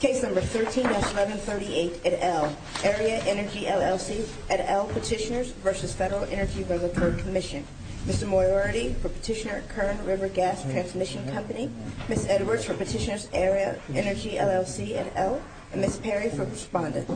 Case number 13-1138 at L. Aera Energy LLC at L Petitioners v. Federal Energy Regulatory Commission Mr. Moriarty for Petitioner Kern River Gas Transmission Company Ms. Edwards for Petitioners Aera Energy LLC at L and Ms. Perry for Respondent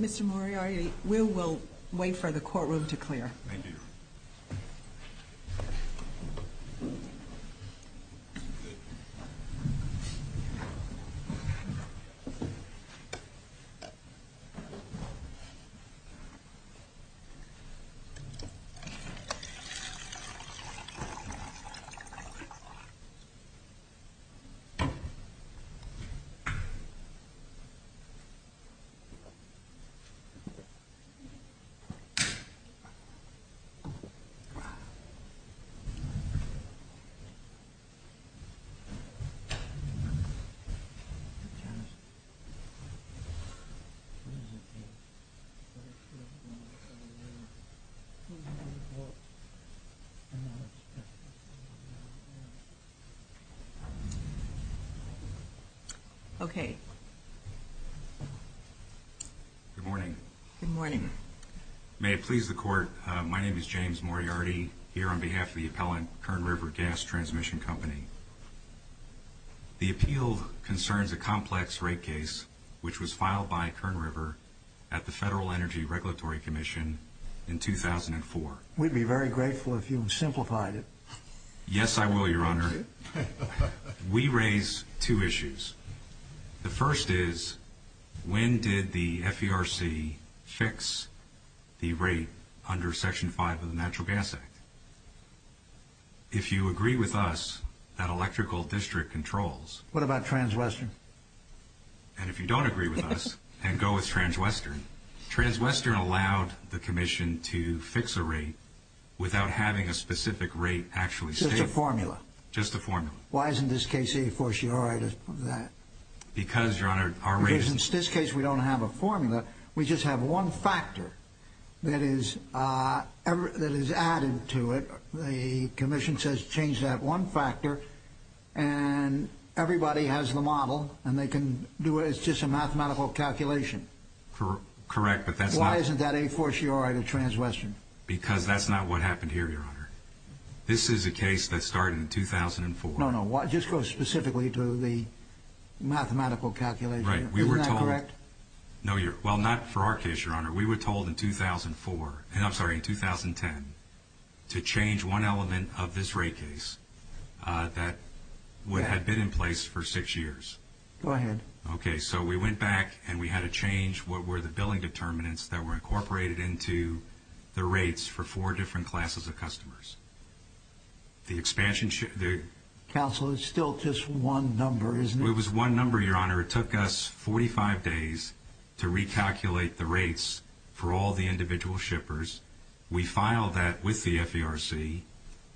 Mr. Moriarty, we will wait for the courtroom to clear. Thank you. Okay. Good morning. Good morning. May it please the Court, my name is James Moriarty, here on behalf of the appellant, Kern River Gas Transmission Company. The appeal concerns a complex rate case which was filed by Kern River at the Federal Energy Regulatory Commission in 2004. We'd be very grateful if you simplified it. Yes, I will, Your Honor. We raise two issues. The first is, when did the FERC fix the rate under Section 5 of the Natural Gas Act? If you agree with us that electrical district controls... What about Transwestern? And if you don't agree with us, then go with Transwestern. Transwestern allowed the Commission to fix a rate without having a specific rate actually stated. Just a formula? Just a formula. Why isn't this case a fortiori to that? Because, Your Honor, our rate... Because in this case, we don't have a formula. We just have one factor that is added to it. The Commission says change that one factor, and everybody has the model, and they can do it. It's just a mathematical calculation. Correct, but that's not... Why isn't that a fortiori to Transwestern? Because that's not what happened here, Your Honor. This is a case that started in 2004. No, no. Just go specifically to the mathematical calculation. Right. We were told... Isn't that correct? No, Your... Well, not for our case, Your Honor. We were told in 2004, and I'm sorry, in 2010, to change one element of this rate case that had been in place for six years. Go ahead. Okay, so we went back, and we had to change what were the billing determinants that were incorporated into the rates for four different classes of customers. The expansion ship... Counsel, it's still just one number, isn't it? It was one number, Your Honor. It took us 45 days to recalculate the rates for all the individual shippers. We filed that with the FERC,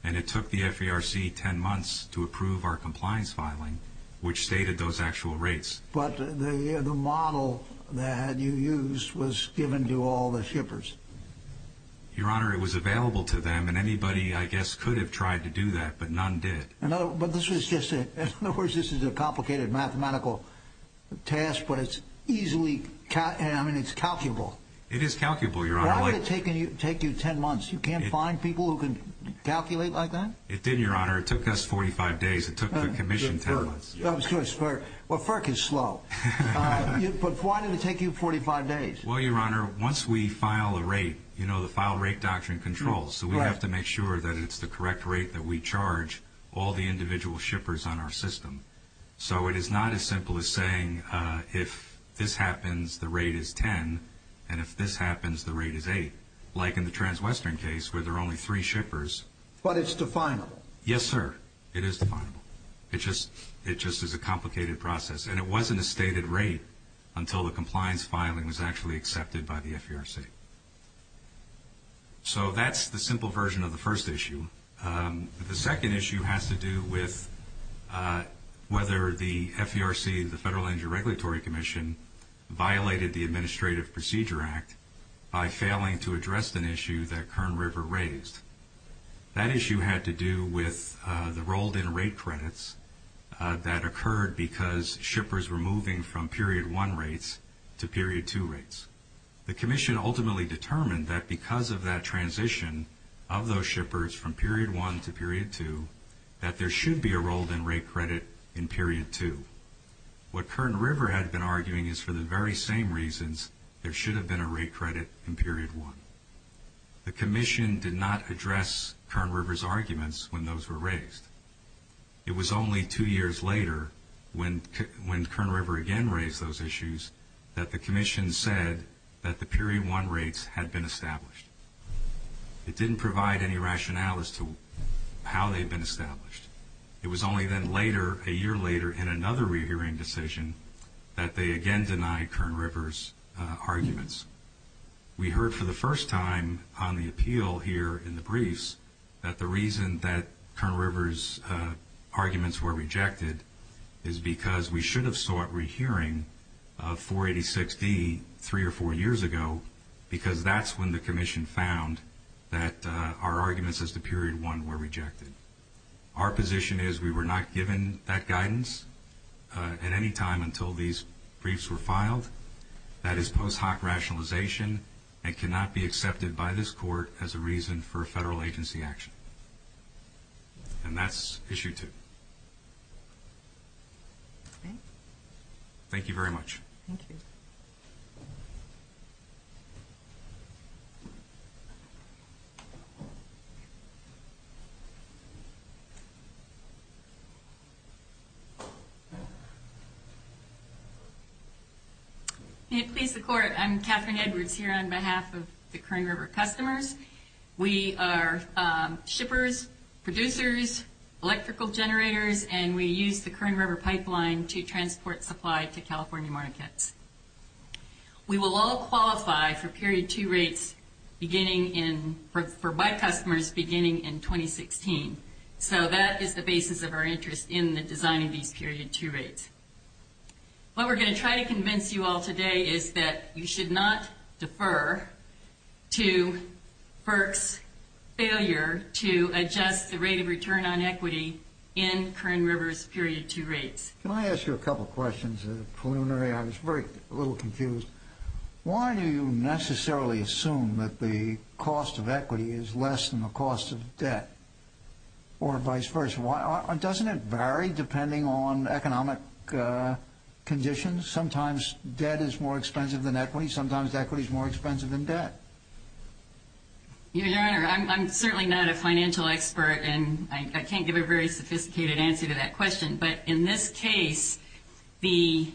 and it took the FERC 10 months to approve our compliance filing, which stated those actual rates. But the model that you used was given to all the shippers. Your Honor, it was available to them, and anybody, I guess, could have tried to do that, but none did. But this was just a... In other words, this is a complicated mathematical task, but it's easily... I mean, it's calculable. It is calculable, Your Honor. Why did it take you 10 months? You can't find people who can calculate like that? It didn't, Your Honor. It took us 45 days. It took the commission 10 months. Well, FERC is slow. But why did it take you 45 days? Well, Your Honor, once we file a rate, you know the file rate doctrine controls, so we have to make sure that it's the correct rate that we charge all the individual shippers on our system. So it is not as simple as saying, if this happens, the rate is 10, and if this happens, the rate is 8, like in the Transwestern case where there are only three shippers. But it's definable. Yes, sir. It is definable. It just is a complicated process. And it wasn't a stated rate until the compliance filing was actually accepted by the FERC. So that's the simple version of the first issue. The second issue has to do with whether the FERC, the Federal Injury Regulatory Commission, violated the Administrative Procedure Act by failing to address an issue that Kern River raised. That issue had to do with the rolled-in rate credits that occurred because shippers were moving from Period 1 rates to Period 2 rates. The commission ultimately determined that because of that transition of those shippers from Period 1 to Period 2, that there should be a rolled-in rate credit in Period 2. What Kern River had been arguing is for the very same reasons there should have been a rate credit in Period 1. The commission did not address Kern River's arguments when those were raised. It was only two years later, when Kern River again raised those issues, that the commission said that the Period 1 rates had been established. It didn't provide any rationales to how they had been established. It was only then later, a year later, in another re-hearing decision, that they again denied Kern River's arguments. We heard for the first time on the appeal here in the briefs that the reason that Kern River's arguments were rejected is because we should have sought re-hearing of 486D three or four years ago, because that's when the commission found that our arguments as to Period 1 were rejected. Our position is we were not given that guidance at any time until these briefs were filed. That is post hoc rationalization and cannot be accepted by this court as a reason for a federal agency action. And that's Issue 2. Thank you very much. Thank you. May it please the court, I'm Catherine Edwards here on behalf of the Kern River customers. We are shippers, producers, electrical generators, and we use the Kern River pipeline to transport supply to California markets. We will all qualify for Period 2 rates beginning in, for my customers, beginning in 2016. So that is the basis of our interest in the design of these Period 2 rates. What we're going to try to convince you all today is that you should not defer to FERC's failure to adjust the rate of return on equity in Kern River's Period 2 rates. Can I ask you a couple questions? Preliminary, I was a little confused. Why do you necessarily assume that the cost of equity is less than the cost of debt or vice versa? Doesn't it vary depending on economic conditions? Sometimes debt is more expensive than equity. Sometimes equity is more expensive than debt. Your Honor, I'm certainly not a financial expert, and I can't give a very sophisticated answer to that question. But in this case, the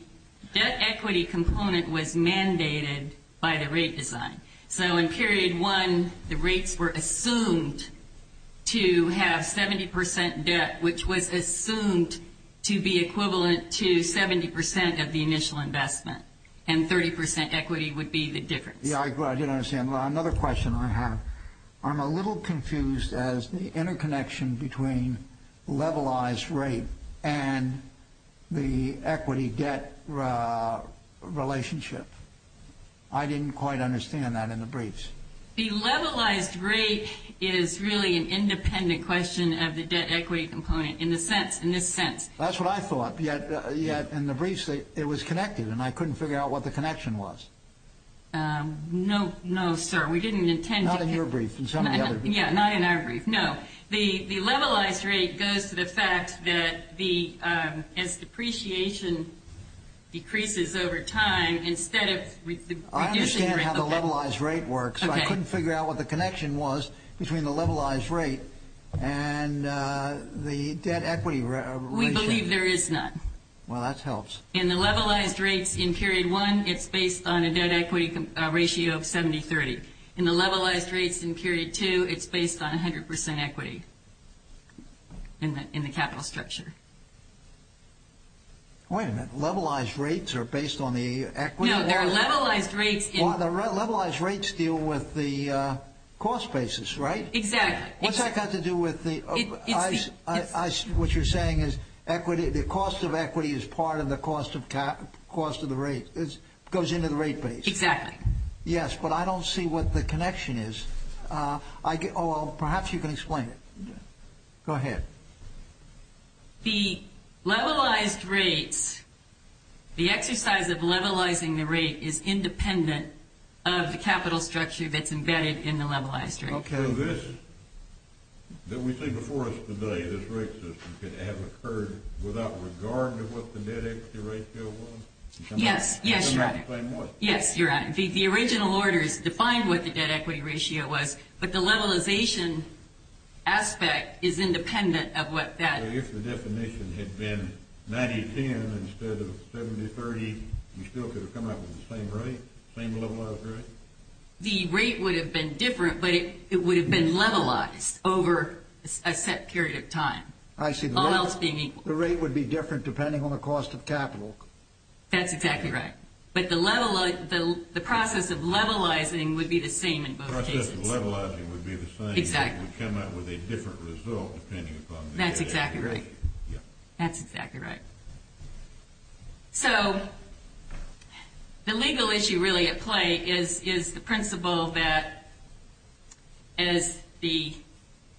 debt equity component was mandated by the rate design. So in Period 1, the rates were assumed to have 70% debt, which was assumed to be equivalent to 70% of the initial investment, and 30% equity would be the difference. Yeah, I did understand. Another question I have, I'm a little confused as to the interconnection between levelized rate and the equity-debt relationship. I didn't quite understand that in the briefs. The levelized rate is really an independent question of the debt equity component in this sense. That's what I thought, yet in the briefs it was connected, and I couldn't figure out what the connection was. No, no, sir. We didn't intend to. Yeah, not in our brief. No, the levelized rate goes to the fact that as depreciation decreases over time, instead of reducing the rate. I understand how the levelized rate works, but I couldn't figure out what the connection was between the levelized rate and the debt equity relationship. We believe there is none. Well, that helps. In the levelized rates in Period 1, it's based on a debt equity ratio of 70-30. In the levelized rates in Period 2, it's based on 100% equity in the capital structure. Wait a minute. Levelized rates are based on the equity? No, they're levelized rates. Levelized rates deal with the cost basis, right? Exactly. What's that got to do with the – what you're saying is the cost of equity is part of the cost of the rate. It goes into the rate base. Exactly. Yes, but I don't see what the connection is. Oh, well, perhaps you can explain it. Go ahead. The levelized rates – the exercise of levelizing the rate is independent of the capital structure that's embedded in the levelized rate. Okay. So this, that we see before us today, this rate system, could have occurred without regard to what the debt equity ratio was? Yes, yes, Your Honor. Explain more. Yes, Your Honor. The original orders defined what the debt equity ratio was, but the levelization aspect is independent of what that – So if the definition had been 90-10 instead of 70-30, you still could have come up with the same rate, same levelized rate? The rate would have been different, but it would have been levelized over a set period of time. I see. All else being equal. The rate would be different depending on the cost of capital. That's exactly right. But the process of levelizing would be the same in both cases. The process of levelizing would be the same. Exactly. It would come out with a different result depending upon the debt equity ratio. That's exactly right. Yes. That's exactly right. So the legal issue really at play is the principle that as the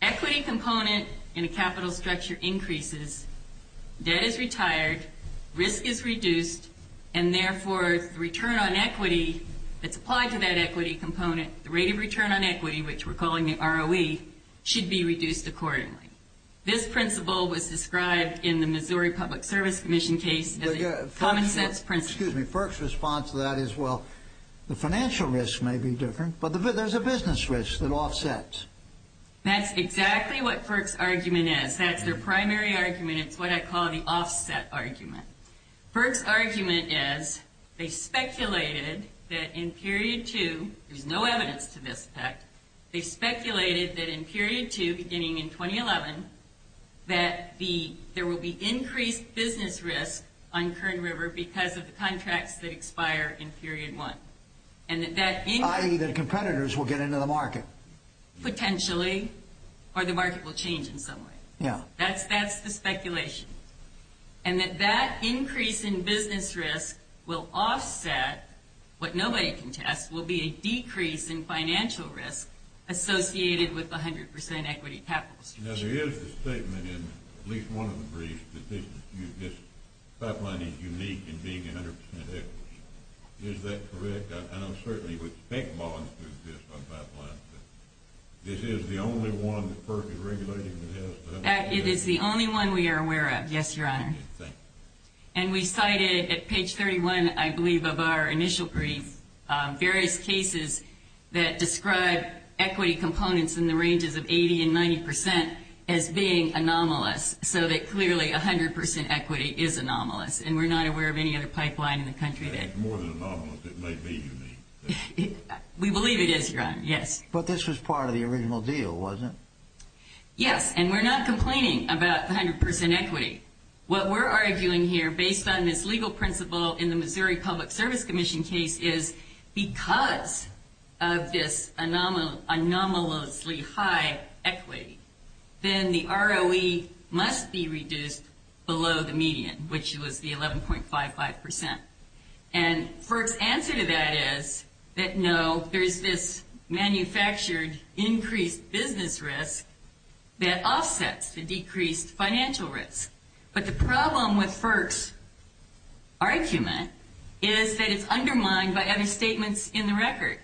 equity component in a capital structure increases, debt is retired, risk is reduced, and therefore the return on equity that's applied to that equity component, the rate of return on equity, which we're calling the ROE, should be reduced accordingly. This principle was described in the Missouri Public Service Commission case as a common sense principle. Excuse me. FERC's response to that is, well, the financial risk may be different, but there's a business risk that offsets. That's exactly what FERC's argument is. That's their primary argument. It's what I call the offset argument. FERC's argument is they speculated that in period two, there's no evidence to this effect, they speculated that in period two, beginning in 2011, that there will be increased business risk on Kern River because of the contracts that expire in period one. I.e. that competitors will get into the market. Potentially, or the market will change in some way. Yeah. That's the speculation. And that that increase in business risk will offset what nobody can test, will be a decrease in financial risk associated with the 100% equity capital structure. Now, there is a statement in at least one of the briefs that this pipeline is unique in being 100% equity. Is that correct? I don't certainly think bonds exist on pipelines, but this is the only one that FERC is regulating that has that. It is the only one we are aware of. Yes, Your Honor. And we cited at page 31, I believe, of our initial brief, various cases that describe equity components in the ranges of 80 and 90% as being anomalous, so that clearly 100% equity is anomalous, and we're not aware of any other pipeline in the country that... It's more than anomalous. It might be unique. We believe it is, Your Honor. Yes. But this was part of the original deal, wasn't it? Yes, and we're not complaining about 100% equity. What we're arguing here, based on this legal principle in the Missouri Public Service Commission case, is because of this anomalously high equity, then the ROE must be reduced below the median, which was the 11.55%. And FERC's answer to that is that, no, there's this manufactured increased business risk that offsets the decreased financial risk. But the problem with FERC's argument is that it's undermined by other statements in the record.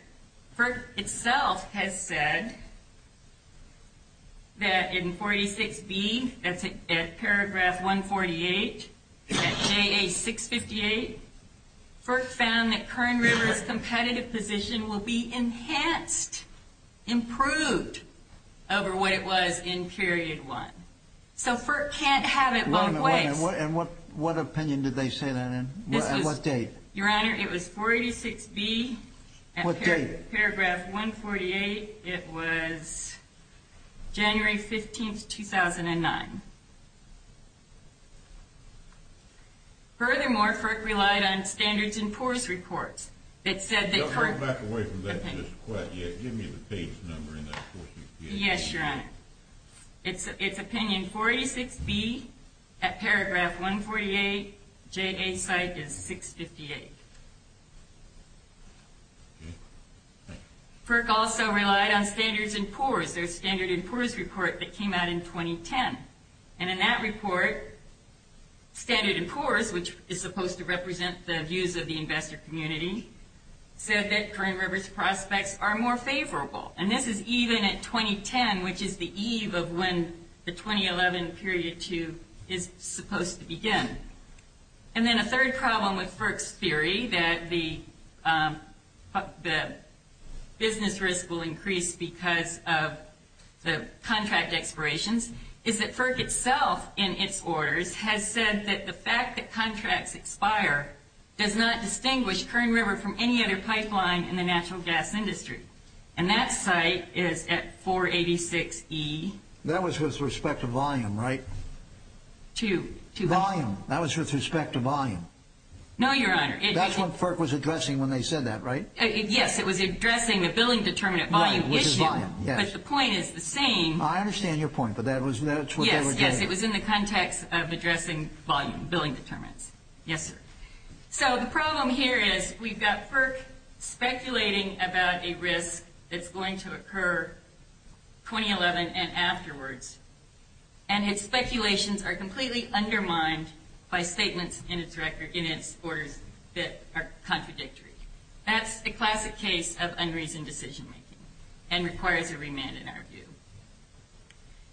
FERC itself has said that in 486B, that's at paragraph 148, at JA658, FERC found that Kern River's competitive position will be enhanced, improved, over what it was in period one. So FERC can't have it both ways. Wait a minute. And what opinion did they say that in? At what date? Your Honor, it was 486B. What date? Paragraph 148. It was January 15th, 2009. Furthermore, FERC relied on standards and force reports. It said that FERC... No, go back away from that just quite yet. Give me the page number in that 468. Yes, Your Honor. It's opinion 486B at paragraph 148, JA site is 658. FERC also relied on standards and force. There's standard and force report that came out in 2010. And in that report, standard and force, which is supposed to represent the views of the investor community, said that Kern River's prospects are more favorable. And this is even at 2010, which is the eve of when the 2011 period two is supposed to begin. And then a third problem with FERC's theory that the business risk will increase because of the contract expirations is that FERC itself, in its orders, has said that the fact that contracts expire does not distinguish Kern River from any other pipeline in the natural gas industry. And that site is at 486E. That was with respect to volume, right? Two. Volume. That was with respect to volume. No, Your Honor. That's what FERC was addressing when they said that, right? Yes, it was addressing the billing determinant volume issue. Right, which is volume, yes. But the point is the same. I understand your point, but that's what they were doing. Yes, yes, it was in the context of addressing volume, billing determinants. Yes, sir. So the problem here is we've got FERC speculating about a risk that's going to occur 2011 and afterwards, and its speculations are completely undermined by statements in its orders that are contradictory. That's the classic case of unreasoned decision-making and requires a remand, in our view.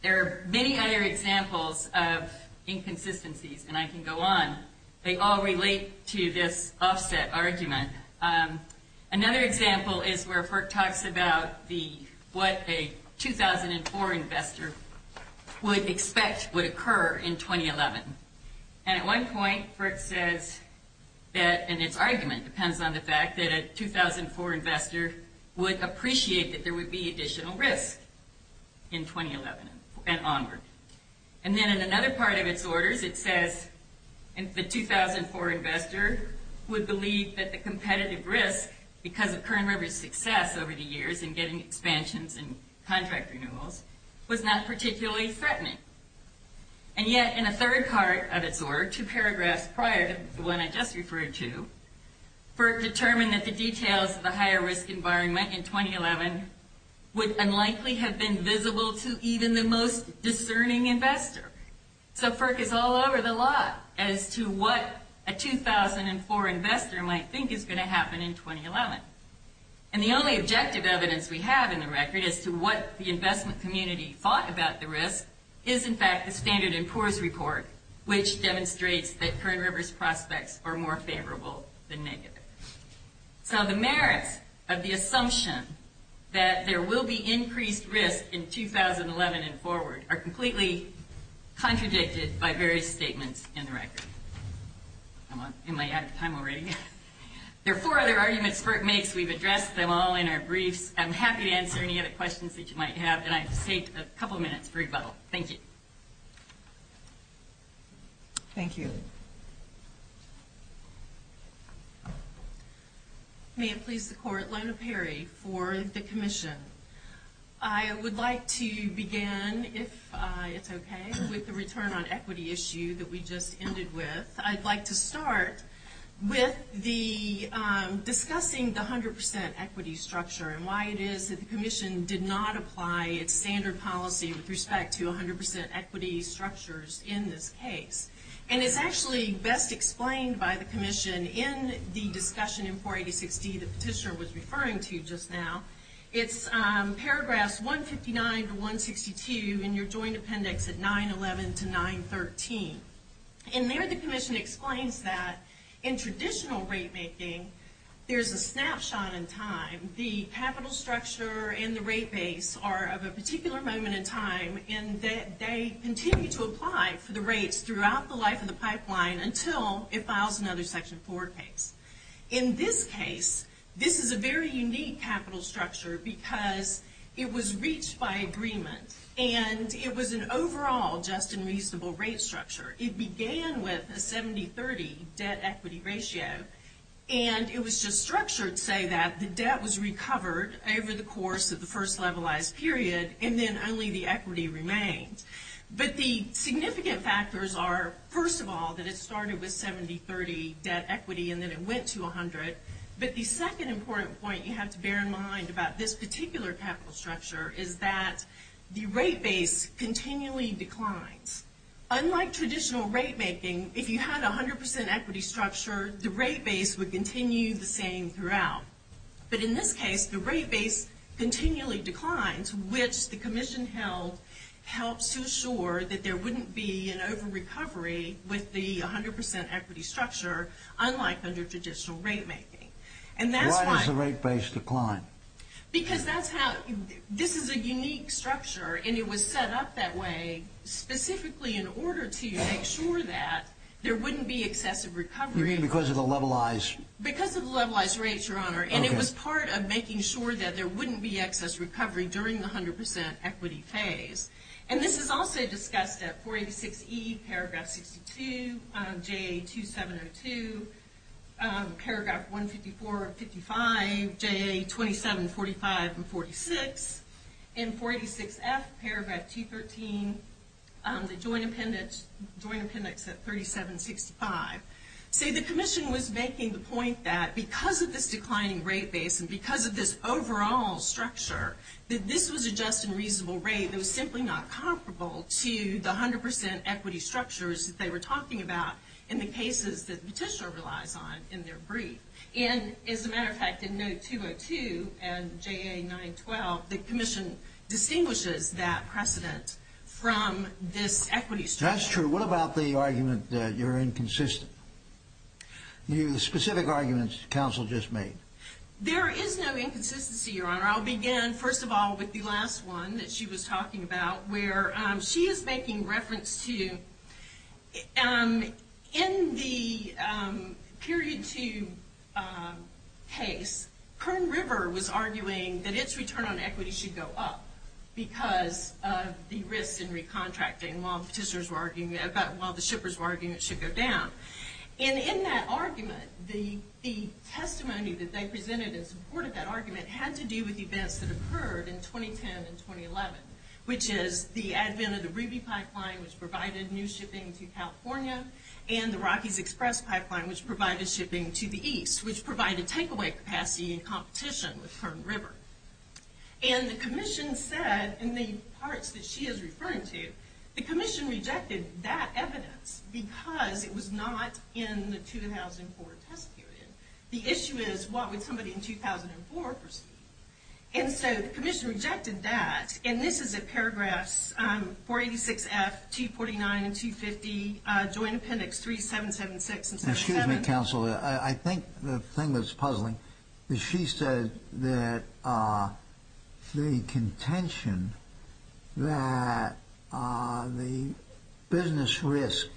There are many other examples of inconsistencies, and I can go on. They all relate to this offset argument. Another example is where FERC talks about what a 2004 investor would expect would occur in 2011. And at one point, FERC says that, and its argument depends on the fact, that a 2004 investor would appreciate that there would be additional risk in 2011 and onward. And then in another part of its orders, it says the 2004 investor would believe that the competitive risk, because of Current River's success over the years in getting expansions and contract renewals, was not particularly threatening. And yet, in a third part of its order, two paragraphs prior to the one I just referred to, FERC determined that the details of the higher risk environment in 2011 would unlikely have been visible to even the most discerning investor. So FERC is all over the lot as to what a 2004 investor might think is going to happen in 2011. And the only objective evidence we have in the record as to what the investment community thought about the risk is, in fact, the Standard and Poor's report, which demonstrates that Current River's prospects are more favorable than negative. So the merits of the assumption that there will be increased risk in 2011 and forward are completely contradicted by various statements in the record. Am I out of time already? There are four other arguments FERC makes. We've addressed them all in our briefs. I'm happy to answer any other questions that you might have. And I've saved a couple minutes for rebuttal. Thank you. Thank you. May it please the Court, Lona Perry for the Commission. I would like to begin, if it's okay, with the return on equity issue that we just ended with. I'd like to start with discussing the 100% equity structure and why it is that the Commission did not apply its standard policy with respect to 100% equity structures in this case. And it's actually best explained by the Commission in the discussion in 486D, the petitioner was referring to just now. It's paragraphs 159 to 162 in your joint appendix at 911 to 913. And there the Commission explains that in traditional rate making, there's a snapshot in time. The capital structure and the rate base are of a particular moment in time and that they continue to apply for the rates throughout the life of the pipeline until it files another Section 4 case. In this case, this is a very unique capital structure because it was reached by agreement. And it was an overall just and reasonable rate structure. It began with a 70-30 debt equity ratio. And it was just structured to say that the debt was recovered over the course of the first levelized period and then only the equity remained. But the significant factors are, first of all, that it started with 70-30 debt equity and then it went to 100. But the second important point you have to bear in mind about this particular capital structure is that the rate base continually declines. Unlike traditional rate making, if you had a 100% equity structure, the rate base would continue the same throughout. But in this case, the rate base continually declines, which the Commission held helps to assure that there wouldn't be an over-recovery with the 100% equity structure, unlike under traditional rate making. And that's why... Why does the rate base decline? Because that's how... This is a unique structure and it was set up that way specifically in order to make sure that there wouldn't be excessive recovery. You mean because of the levelized... Because of the levelized rates, Your Honor. And it was part of making sure that there wouldn't be excess recovery during the 100% equity phase. And this is also discussed at 486E, paragraph 62, JA2702, paragraph 154 and 55, JA2745 and 46, and 486F, paragraph 213, the Joint Appendix at 3765. See, the Commission was making the point that because of this declining rate base and because of this overall structure, that this was a just and reasonable rate. It was simply not comparable to the 100% equity structures that they were talking about in the cases that Petitioner relies on in their brief. And as a matter of fact, in note 202 and JA912, the Commission distinguishes that precedent from this equity structure. That's true. What about the argument that you're inconsistent? The specific arguments that counsel just made. There is no inconsistency, Your Honor. I'll begin, first of all, with the last one that she was talking about, where she is making reference to, in the period two case, Kern River was arguing that its return on equity should go up because of the risks in recontracting while the shippers were arguing it should go down. And in that argument, the testimony that they presented in support of that argument had to do with events that occurred in 2010 and 2011, which is the advent of the Ruby Pipeline, which provided new shipping to California, and the Rocky's Express Pipeline, which provided shipping to the east, which provided takeaway capacity and competition with Kern River. And the Commission said, in the parts that she is referring to, the Commission rejected that evidence because it was not in the 2004 test period. The issue is, what would somebody in 2004 perceive? And so the Commission rejected that. And this is at paragraphs 486F, 249, and 250, Joint Appendix 3776 and 377. Excuse me, counsel. I think the thing that's puzzling is she said that the contention that the business risk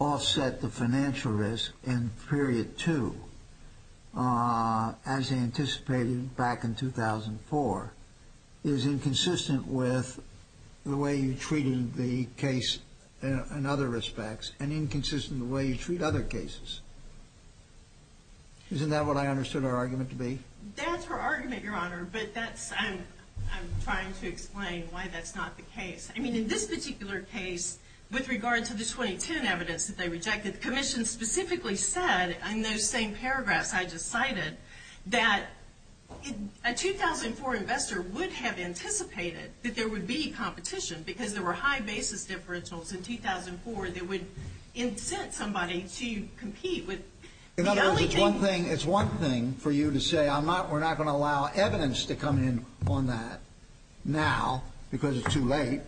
offset the financial risk in period two, as anticipated back in 2004, is inconsistent with the way you treated the case in other respects and inconsistent with the way you treat other cases. Isn't that what I understood her argument to be? That's her argument, Your Honor, but I'm trying to explain why that's not the case. I mean, in this particular case, with regard to the 2010 evidence that they rejected, the Commission specifically said, in those same paragraphs I just cited, that a 2004 investor would have anticipated that there would be competition because there were high basis differentials in 2004 that would incent somebody to compete with the only thing. It's one thing for you to say we're not going to allow evidence to come in on that now because it's too late,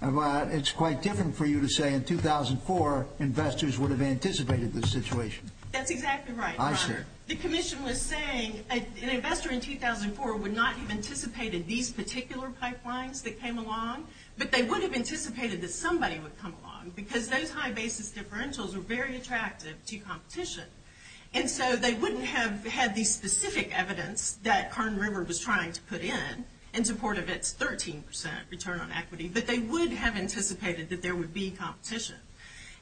but it's quite different for you to say in 2004 investors would have anticipated this situation. That's exactly right. Aye, sir. The Commission was saying an investor in 2004 would not have anticipated these particular pipelines that came along, but they would have anticipated that somebody would come along because those high basis differentials were very attractive to competition. And so they wouldn't have had the specific evidence that Carn River was trying to put in in support of its 13% return on equity, but they would have anticipated that there would be competition.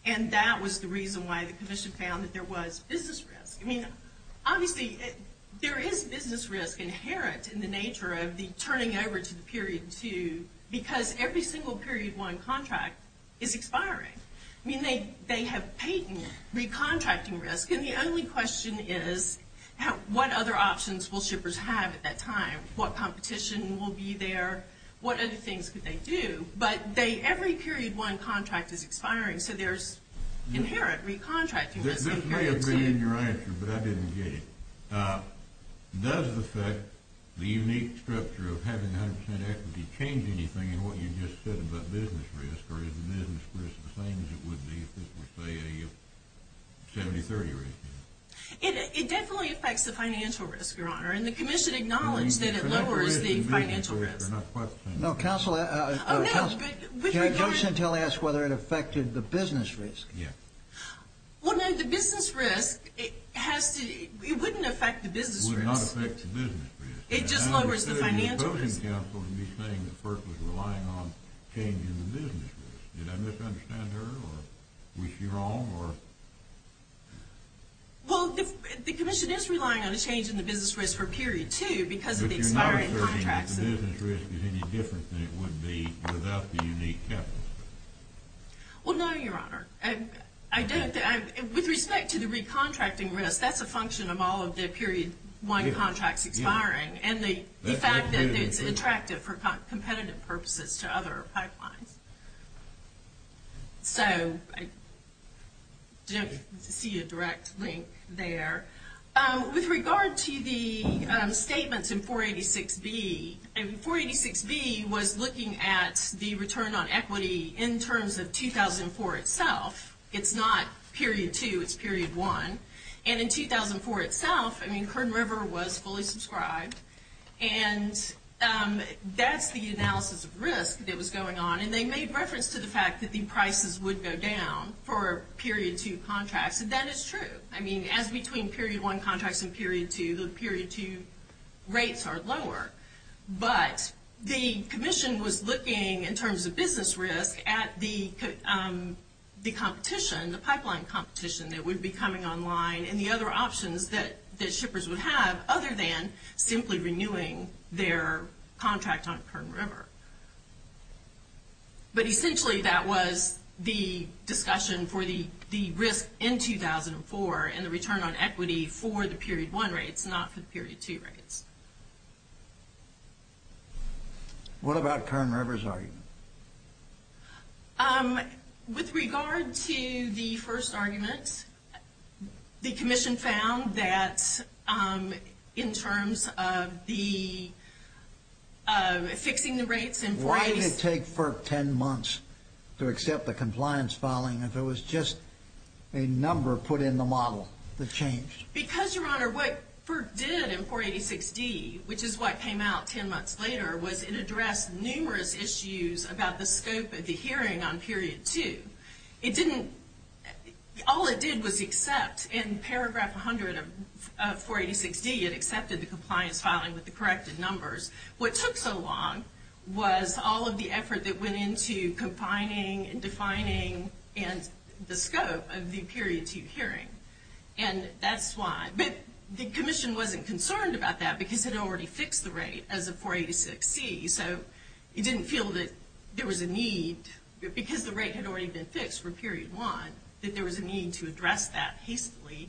And that was the reason why the Commission found that there was business risk. I mean, obviously, there is business risk inherent in the nature of the turning over to the Period 2 because every single Period 1 contract is expiring. I mean, they have patent recontracting risk, and the only question is what other options will shippers have at that time? What competition will be there? What other things could they do? But every Period 1 contract is expiring, so there's inherent recontracting risk. This may have been in your answer, but I didn't get it. Does the fact the unique structure of having 100% equity change anything in what you just said about business risk? Or is the business risk the same as it would be if it were, say, a 70-30 risk? It definitely affects the financial risk, Your Honor, and the Commission acknowledged that it lowers the financial risk. No, Counsel, can I just ask whether it affected the business risk? Yes. Well, no, the business risk, it wouldn't affect the business risk. It would not affect the business risk. It just lowers the financial risk. I don't think Counsel can be saying the FERC was relying on changing the business risk. Did I misunderstand her, or was she wrong? Well, the Commission is relying on a change in the business risk for Period 2 because of the expiring contracts. But you're not asserting that the business risk is any different than it would be without the unique capital structure? Well, no, Your Honor. With respect to the recontracting risk, that's a function of all of the Period 1 contracts expiring. And the fact that it's attractive for competitive purposes to other pipelines. So I don't see a direct link there. With regard to the statements in 486B, 486B was looking at the return on equity in terms of 2004 itself. It's not Period 2, it's Period 1. And in 2004 itself, I mean, Kern River was fully subscribed. And that's the analysis of risk that was going on. And they made reference to the fact that the prices would go down for Period 2 contracts. And that is true. I mean, as between Period 1 contracts and Period 2, the Period 2 rates are lower. But the Commission was looking in terms of business risk at the competition, the pipeline competition that would be coming online, and the other options that shippers would have, other than simply renewing their contract on Kern River. But essentially, that was the discussion for the risk in 2004 and the return on equity for the Period 1 rates, not for the Period 2 rates. What about Kern River's argument? With regard to the first argument, the Commission found that in terms of the fixing the rates in 486— Why did it take FERC 10 months to accept the compliance filing if it was just a number put in the model that changed? Because, Your Honor, what FERC did in 486D, which is what came out 10 months later, was it addressed numerous issues about the scope of the hearing on Period 2. It didn't—all it did was accept, in paragraph 100 of 486D, it accepted the compliance filing with the corrected numbers. What took so long was all of the effort that went into confining and defining the scope of the Period 2 hearing. And that's why—but the Commission wasn't concerned about that because it had already fixed the rate as of 486C. So it didn't feel that there was a need, because the rate had already been fixed for Period 1, that there was a need to address that hastily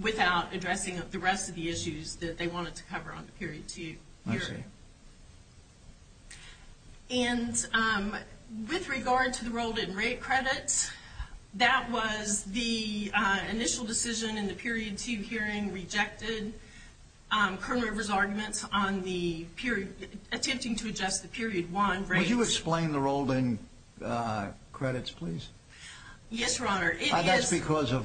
without addressing the rest of the issues that they wanted to cover on the Period 2 hearing. I see. And with regard to the rolled-in rate credits, that was the initial decision in the Period 2 hearing rejected. Colonel Rivers' arguments on the period—attempting to adjust the Period 1 rates— Would you explain the rolled-in credits, please? Yes, Your Honor. It is— That's because of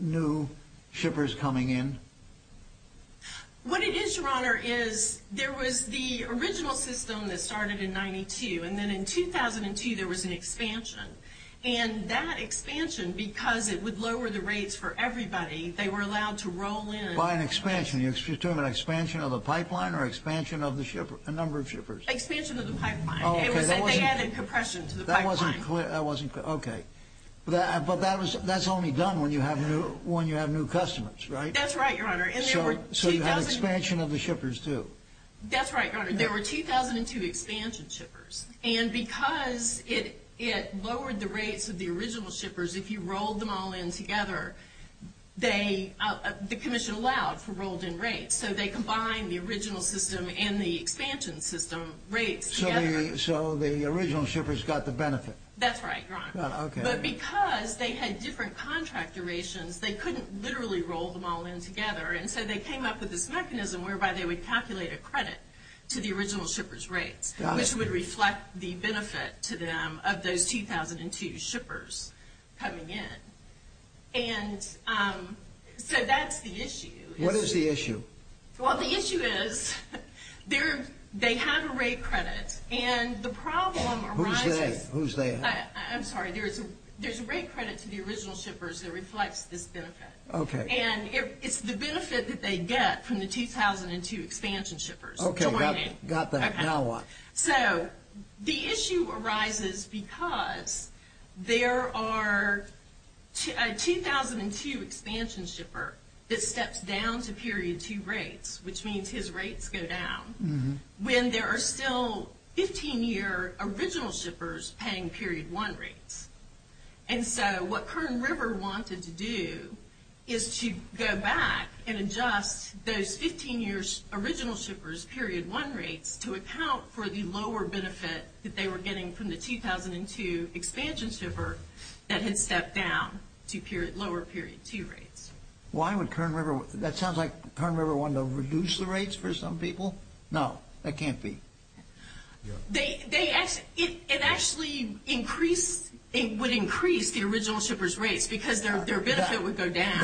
new shippers coming in? What it is, Your Honor, is there was the original system that started in 92, and then in 2002 there was an expansion. And that expansion, because it would lower the rates for everybody, they were allowed to roll in— By an expansion. You're talking about expansion of the pipeline or expansion of the number of shippers? Expansion of the pipeline. It was that they added compression to the pipeline. That wasn't clear. Okay. But that's only done when you have new customers, right? That's right, Your Honor. So you had expansion of the shippers, too? That's right, Your Honor. There were 2002 expansion shippers. And because it lowered the rates of the original shippers, if you rolled them all in together, the Commission allowed for rolled-in rates. So they combined the original system and the expansion system rates together. So the original shippers got the benefit? That's right, Your Honor. But because they had different contract durations, they couldn't literally roll them all in together. And so they came up with this mechanism whereby they would calculate a credit to the original shippers' rates, which would reflect the benefit to them of those 2002 shippers coming in. And so that's the issue. What is the issue? Well, the issue is they have a rate credit, and the problem arises… Who's they? Who's they? I'm sorry. There's a rate credit to the original shippers that reflects this benefit. Okay. And it's the benefit that they get from the 2002 expansion shippers joining. Got that. Now what? So the issue arises because there are a 2002 expansion shipper that steps down to period 2 rates, which means his rates go down, when there are still 15-year original shippers paying period 1 rates. And so what Kern River wanted to do is to go back and adjust those 15-year original shippers' period 1 rates to account for the lower benefit that they were getting from the 2002 expansion shipper that had stepped down to lower period 2 rates. Why would Kern River… That sounds like Kern River wanted to reduce the rates for some people. No, that can't be. It actually increased… It would increase the original shippers' rates because their benefit would go down.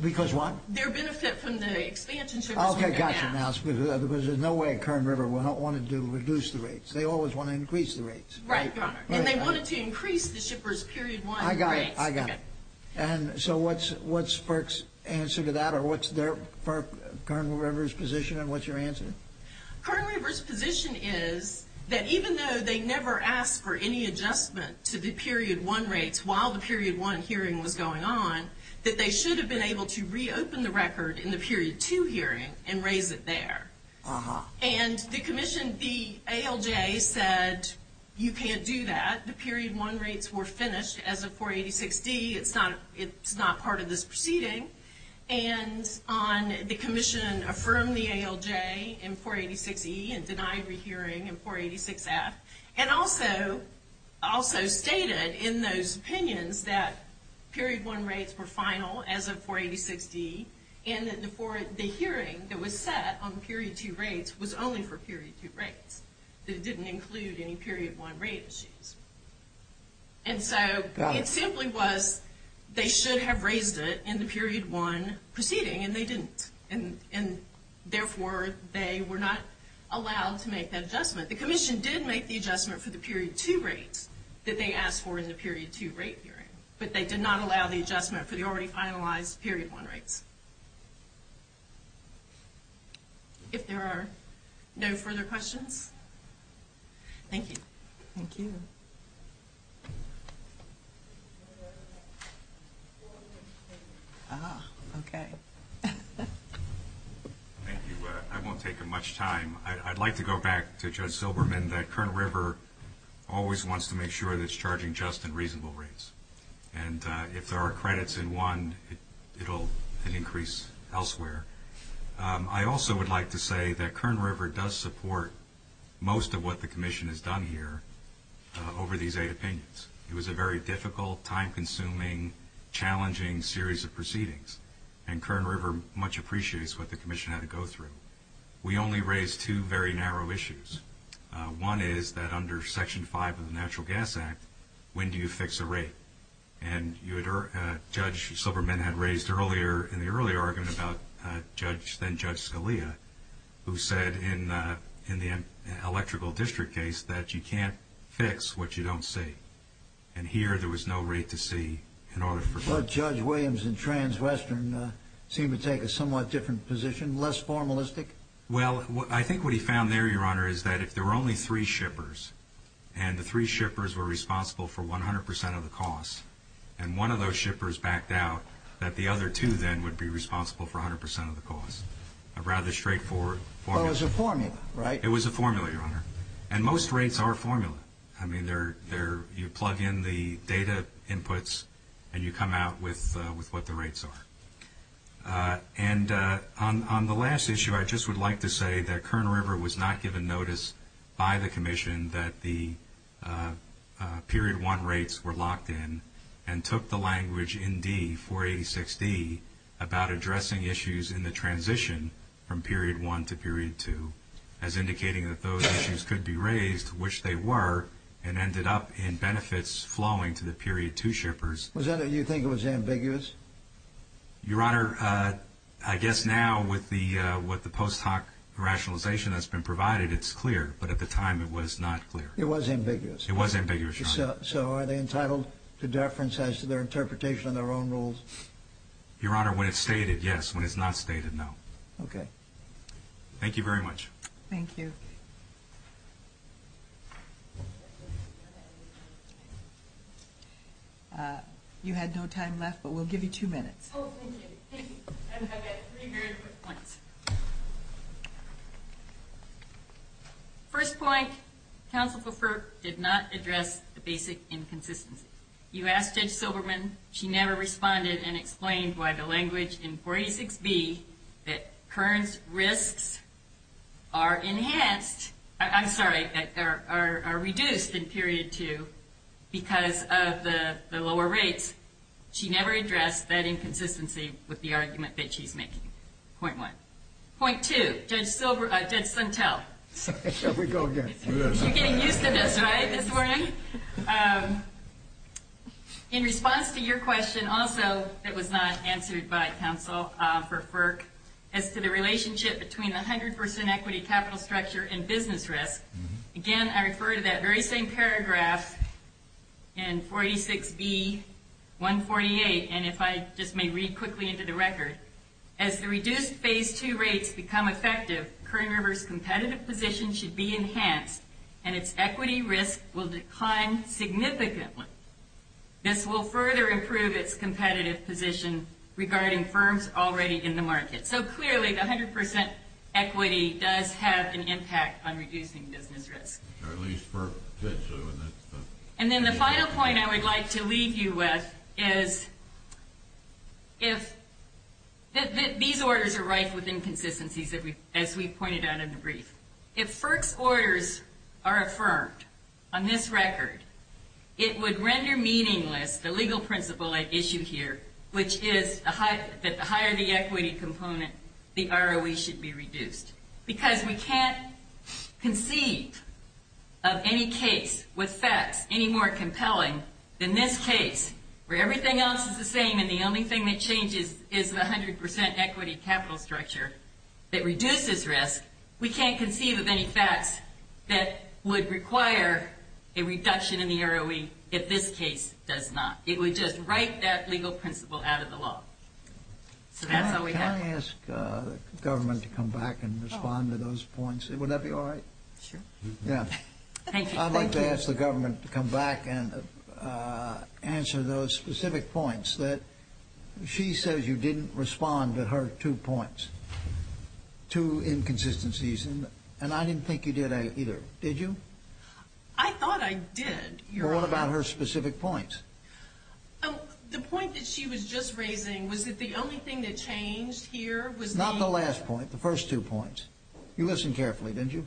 Because what? Their benefit from the expansion shippers would go down. Okay, gotcha. Because there's no way Kern River would want to reduce the rates. They always want to increase the rates. Right, Your Honor. And they wanted to increase the shippers' period 1 rates. I got it. I got it. And so what's FERC's answer to that, or what's Kern River's position, and what's your answer? Kern River's position is that even though they never asked for any adjustment to the period 1 rates while the period 1 hearing was going on, that they should have been able to reopen the record in the period 2 hearing and raise it there. And the ALJ said you can't do that. The period 1 rates were finished as of 486D. It's not part of this proceeding. And the commission affirmed the ALJ in 486E and denied rehearing in 486F and also stated in those opinions that period 1 rates were final as of 486D and that the hearing that was set on period 2 rates was only for period 2 rates, that it didn't include any period 1 rate issues. And so it simply was they should have raised it in the period 1 proceeding, and they didn't. And therefore, they were not allowed to make that adjustment. The commission did make the adjustment for the period 2 rates that they asked for in the period 2 rate hearing, but they did not allow the adjustment for the already finalized period 1 rates. If there are no further questions, thank you. Thank you. Ah, okay. Thank you. I won't take much time. I'd like to go back to Judge Silberman, that Kern River always wants to make sure that it's charging just and reasonable rates. And if there are credits in one, it'll increase elsewhere. I also would like to say that Kern River does support most of what the commission has done here over these eight opinions. It was a very difficult, time-consuming, challenging series of proceedings, and Kern River much appreciates what the commission had to go through. We only raised two very narrow issues. One is that under Section 5 of the Natural Gas Act, when do you fix a rate? And Judge Silberman had raised earlier in the earlier argument about then-Judge Scalia, who said in the electrical district case that you can't fix what you don't see. And here there was no rate to see in order for- But Judge Williams in Trans-Western seemed to take a somewhat different position, less formalistic. Well, I think what he found there, Your Honor, is that if there were only three shippers, and the three shippers were responsible for 100% of the cost, and one of those shippers backed out, that the other two then would be responsible for 100% of the cost. A rather straightforward formula. Well, it was a formula, right? It was a formula, Your Honor. And most rates are a formula. I mean, you plug in the data inputs and you come out with what the rates are. And on the last issue, I just would like to say that Kern River was not given notice by the commission that the Period 1 rates were locked in and took the language in D, 486D, about addressing issues in the transition from Period 1 to Period 2, as indicating that those issues could be raised, which they were, and ended up in benefits flowing to the Period 2 shippers. Was that what you think was ambiguous? Your Honor, I guess now with the post hoc rationalization that's been provided, it's clear. But at the time, it was not clear. It was ambiguous. It was ambiguous, Your Honor. So are they entitled to deference as to their interpretation of their own rules? Your Honor, when it's stated, yes. When it's not stated, no. Okay. Thank you very much. Thank you. You had no time left, but we'll give you two minutes. Oh, thank you. Thank you. I've got three very quick points. First point, Counsel Fulfer did not address the basic inconsistencies. You asked Judge Silberman. She never responded and explained why the language in 486B that Kearns risks are enhanced, I'm sorry, are reduced in Period 2 because of the lower rates. She never addressed that inconsistency with the argument that she's making. Point one. Point two, Judge Suntell. Here we go again. You're getting used to this, right, this morning? In response to your question, also, that was not answered by counsel for FERC, as to the relationship between the 100% equity capital structure and business risk, again, I refer to that very same paragraph in 486B, 148, and if I just may read quickly into the record. As the reduced Phase 2 rates become effective, Kern River's competitive position should be enhanced and its equity risk will decline significantly. This will further improve its competitive position regarding firms already in the market. So, clearly, the 100% equity does have an impact on reducing business risk. At least FERC said so. And then the final point I would like to leave you with is that these orders are rife with inconsistencies, as we pointed out in the brief. If FERC's orders are affirmed on this record, it would render meaningless the legal principle I issue here, which is that the higher the equity component, the ROE should be reduced. Because we can't conceive of any case with facts any more compelling than this case, where everything else is the same and the only thing that changes is the 100% equity capital structure that reduces risk. We can't conceive of any facts that would require a reduction in the ROE if this case does not. It would just write that legal principle out of the law. So that's all we have. Can I ask the government to come back and respond to those points? Would that be all right? Sure. Yeah. Thank you. I'd like to ask the government to come back and answer those specific points. She says you didn't respond to her two points, two inconsistencies, and I didn't think you did either. Did you? I thought I did. Well, what about her specific points? The point that she was just raising was that the only thing that changed here was the— Not the last point. The first two points. You listened carefully, didn't you?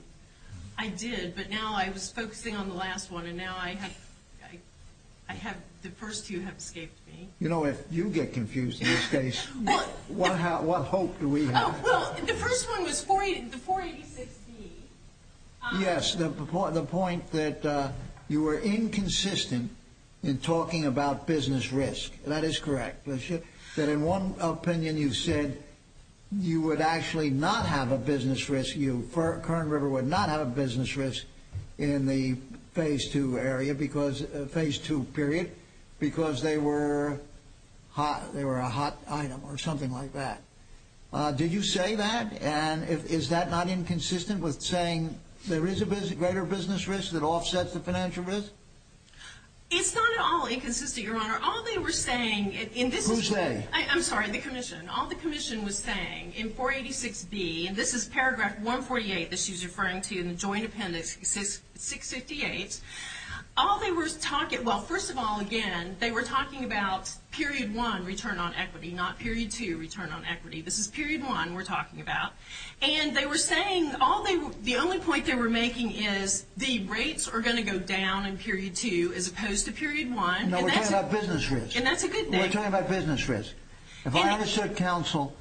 I did, but now I was focusing on the last one, and now the first two have escaped me. You know, if you get confused in this case, what hope do we have? Well, the first one was 486B. Yes, the point that you were inconsistent in talking about business risk. That is correct. That in one opinion you said you would actually not have a business risk, you—Curran River would not have a business risk in the Phase II period because they were a hot item or something like that. Did you say that, and is that not inconsistent with saying there is a greater business risk that offsets the financial risk? It's not at all inconsistent, Your Honor. All they were saying in this— Who's they? I'm sorry, the Commission. All the Commission was saying in 486B, and this is Paragraph 148 that she's referring to in the Joint Appendix 658, all they were talking—well, first of all, again, they were talking about Period I, return on equity, not Period II, return on equity. This is Period I we're talking about. And they were saying—the only point they were making is the rates are going to go down in Period II as opposed to Period I. No, we're talking about business risk. And that's a good thing. We're talking about business risk. If I understood counsel,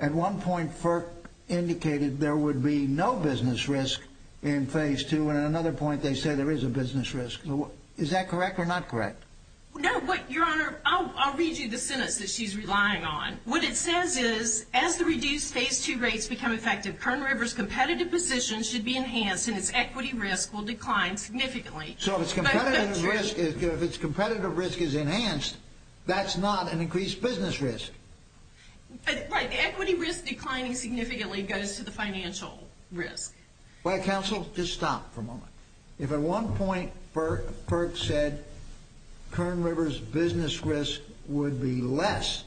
at one point FERC indicated there would be no business risk in Phase II, and at another point they said there is a business risk. Is that correct or not correct? No, but, Your Honor, I'll read you the sentence that she's relying on. What it says is, as the reduced Phase II rates become effective, Kern River's competitive position should be enhanced and its equity risk will decline significantly. So if its competitive risk is enhanced, that's not an increased business risk. Right. The equity risk declining significantly goes to the financial risk. Well, counsel, just stop for a moment. If at one point FERC said Kern River's business risk would be less,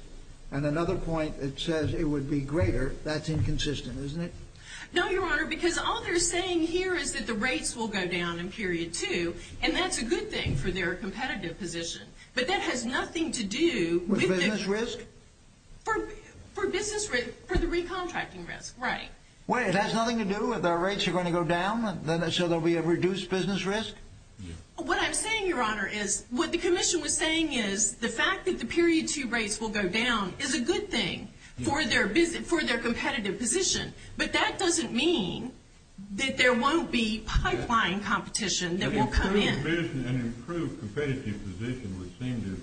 and at another point it says it would be greater, that's inconsistent, isn't it? No, Your Honor, because all they're saying here is that the rates will go down in Period II, and that's a good thing for their competitive position. But that has nothing to do with the… With business risk? For business risk, for the recontracting risk, right. Wait, it has nothing to do with the rates are going to go down, so there will be a reduced business risk? What I'm saying, Your Honor, is what the commission was saying is the fact that the Period II rates will go down is a good thing for their competitive position. But that doesn't mean that there won't be pipeline competition that will come in. An improved competitive position would seem to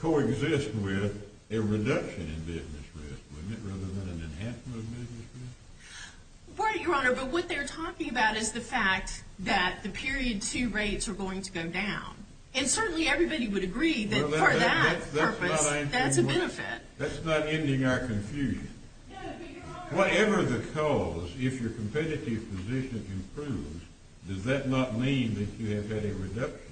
coexist with a reduction in business risk, wouldn't it, rather than an enhancement of business risk? Right, Your Honor, but what they're talking about is the fact that the Period II rates are going to go down. And certainly everybody would agree that for that purpose, that's a benefit. That's not ending our confusion. Whatever the cause, if your competitive position improves, does that not mean that you have had a reduction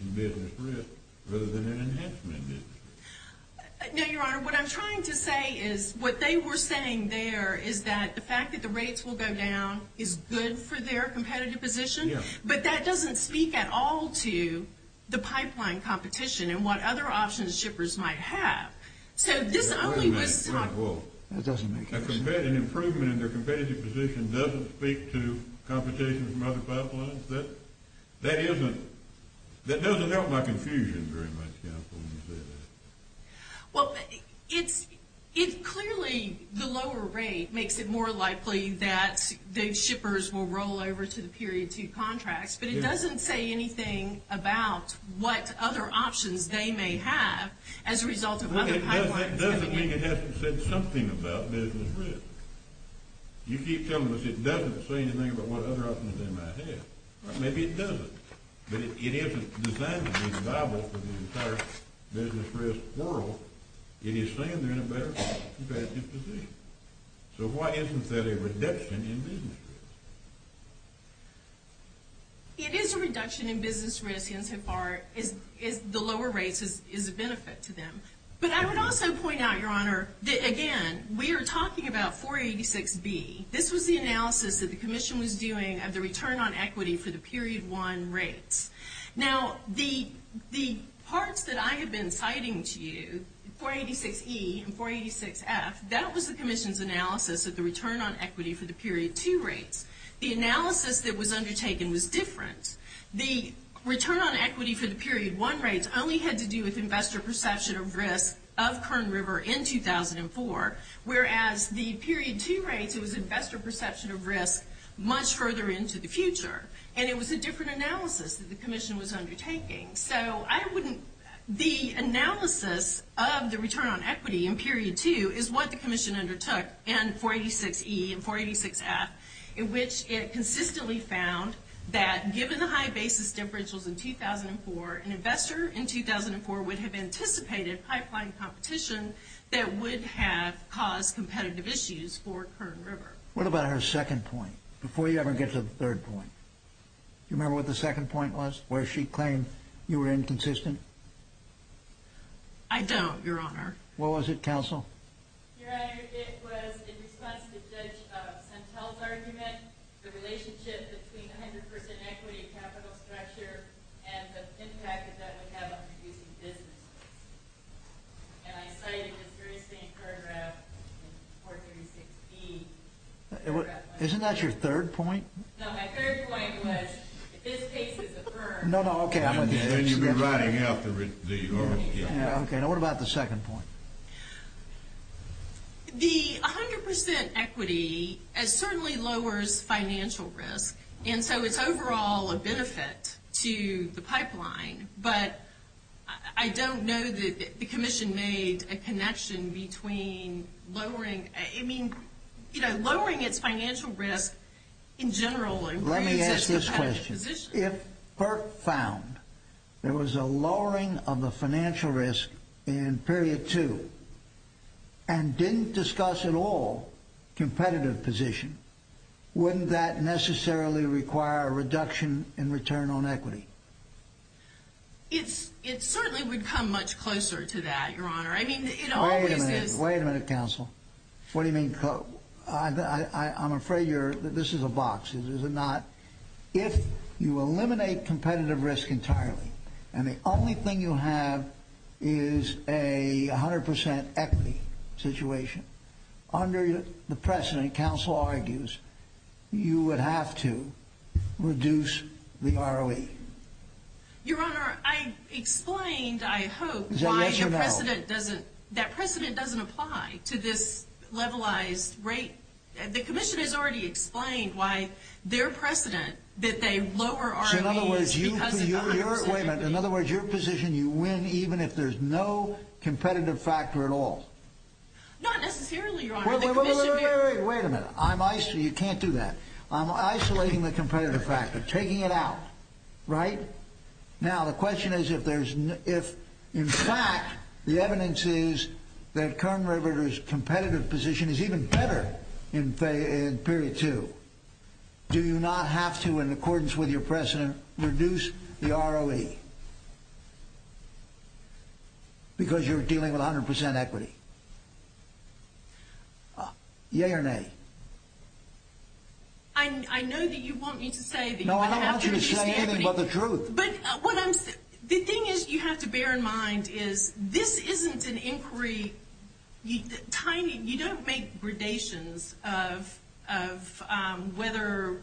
in business risk rather than an enhancement of business risk? No, Your Honor, what I'm trying to say is what they were saying there is that the fact that the rates will go down is good for their competitive position, but that doesn't speak at all to the pipeline competition and what other options shippers might have. That doesn't make sense. An improvement in their competitive position doesn't speak to competition from other pipelines? That doesn't help my confusion very much, counsel, when you say that. Well, it's clearly the lower rate makes it more likely that those shippers will roll over to the Period II contracts, but it doesn't say anything about what other options they may have as a result of other pipelines. Well, that doesn't mean it hasn't said something about business risk. You keep telling us it doesn't say anything about what other options they might have. Maybe it doesn't, but it isn't designed to be viable for the entire business risk world. It is saying they're in a better competitive position. So why isn't that a reduction in business risk? It is a reduction in business risk insofar as the lower rates is a benefit to them. But I would also point out, Your Honor, again, we are talking about 486B. This was the analysis that the Commission was doing of the return on equity for the Period I rates. Now, the parts that I have been citing to you, 486E and 486F, that was the Commission's analysis of the return on equity for the Period II rates. The analysis that was undertaken was different. The return on equity for the Period I rates only had to do with investor perception of risk of Kern River in 2004, whereas the Period II rates, it was investor perception of risk much further into the future. And it was a different analysis that the Commission was undertaking. So the analysis of the return on equity in Period II is what the Commission undertook in 486E and 486F, in which it consistently found that given the high basis differentials in 2004, an investor in 2004 would have anticipated pipeline competition that would have caused competitive issues for Kern River. What about her second point, before you ever get to the third point? Do you remember what the second point was, where she claimed you were inconsistent? I don't, Your Honor. What was it, Counsel? Your Honor, it was in response to Judge Santel's argument, the relationship between 100% equity capital structure and the impact that that would have on reducing business risk. And I cited this very same paragraph in 436B. Isn't that your third point? No, my third point was this case is affirmed. No, no, okay. And you've been writing out the original. Okay, now what about the second point? The 100% equity certainly lowers financial risk, and so it's overall a benefit to the pipeline. But I don't know that the commission made a connection between lowering, I mean, you know, lowering its financial risk in general improves its competitive position. Let me ask this question. If Burke found there was a lowering of the financial risk in period two and didn't discuss at all competitive position, wouldn't that necessarily require a reduction in return on equity? It certainly would come much closer to that, Your Honor. I mean, it always is. Wait a minute. Wait a minute, Counsel. What do you mean? I'm afraid this is a box. Is it not? If you eliminate competitive risk entirely and the only thing you have is a 100% equity situation, under the precedent, Counsel argues, you would have to reduce the ROE. Your Honor, I explained, I hope, why that precedent doesn't apply to this levelized rate. The commission has already explained why their precedent that they lower ROE is because of the 100% equity. So, in other words, your position, you win even if there's no competitive factor at all? Not necessarily, Your Honor. Wait a minute. Wait a minute. You can't do that. I'm isolating the competitive factor, taking it out, right? Now, the question is if, in fact, the evidence is that Kern River's competitive position is even better in period two, do you not have to, in accordance with your precedent, reduce the ROE? Why? Because you're dealing with 100% equity. Yea or nay? I know that you want me to say that you would have to reduce the equity. No, I don't want you to say anything but the truth. But the thing is you have to bear in mind is this isn't an inquiry. You don't make gradations of whether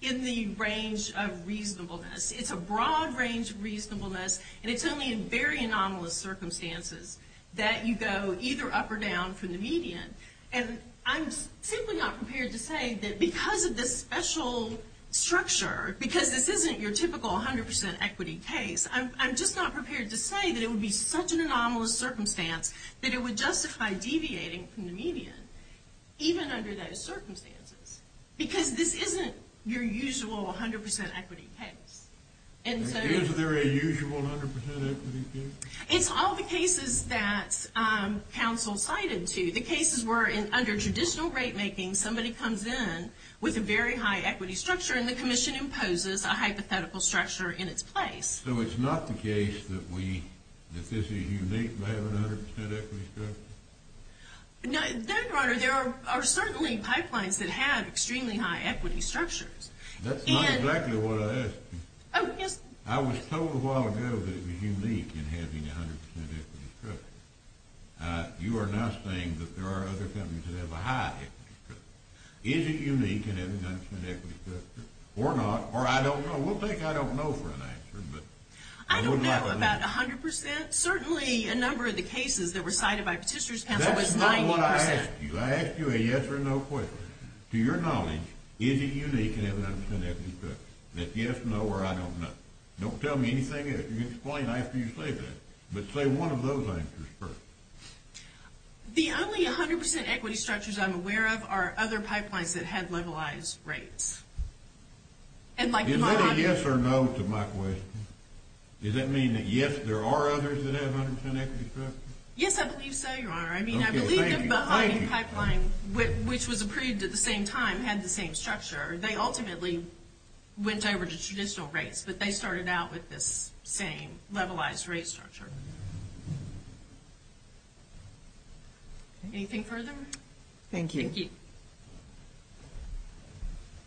in the range of reasonableness. It's a broad range of reasonableness, and it's only in very anomalous circumstances that you go either up or down from the median. And I'm simply not prepared to say that because of this special structure, because this isn't your typical 100% equity case, I'm just not prepared to say that it would be such an anomalous circumstance that it would justify deviating from the median, even under those circumstances. Because this isn't your usual 100% equity case. Is there a usual 100% equity case? It's all the cases that counsel cited to you. The cases where under traditional rate making somebody comes in with a very high equity structure and the commission imposes a hypothetical structure in its place. So it's not the case that this is unique to having a 100% equity structure? No, Your Honor. There are certainly pipelines that have extremely high equity structures. That's not exactly what I asked you. Oh, yes. I was told a while ago that it was unique in having a 100% equity structure. You are now saying that there are other companies that have a high equity structure. Is it unique in having a 100% equity structure? Or not? Or I don't know. We'll take I don't know for an answer. I don't know about 100%. But certainly a number of the cases that were cited by Petitioner's counsel was 90%. That's not what I asked you. I asked you a yes or no question. To your knowledge, is it unique in having a 100% equity structure? Is it yes, no, or I don't know? Don't tell me anything else. You can explain after you say that. But say one of those answers first. The only 100% equity structures I'm aware of are other pipelines that have levelized rates. Is that a yes or no to my question? Does that mean that yes, there are others that have 100% equity structures? Yes, I believe so, Your Honor. I mean, I believe that Baha'i Pipeline, which was approved at the same time, had the same structure. They ultimately went over to traditional rates. But they started out with this same levelized rate structure. Anything further? Thank you. Thank you.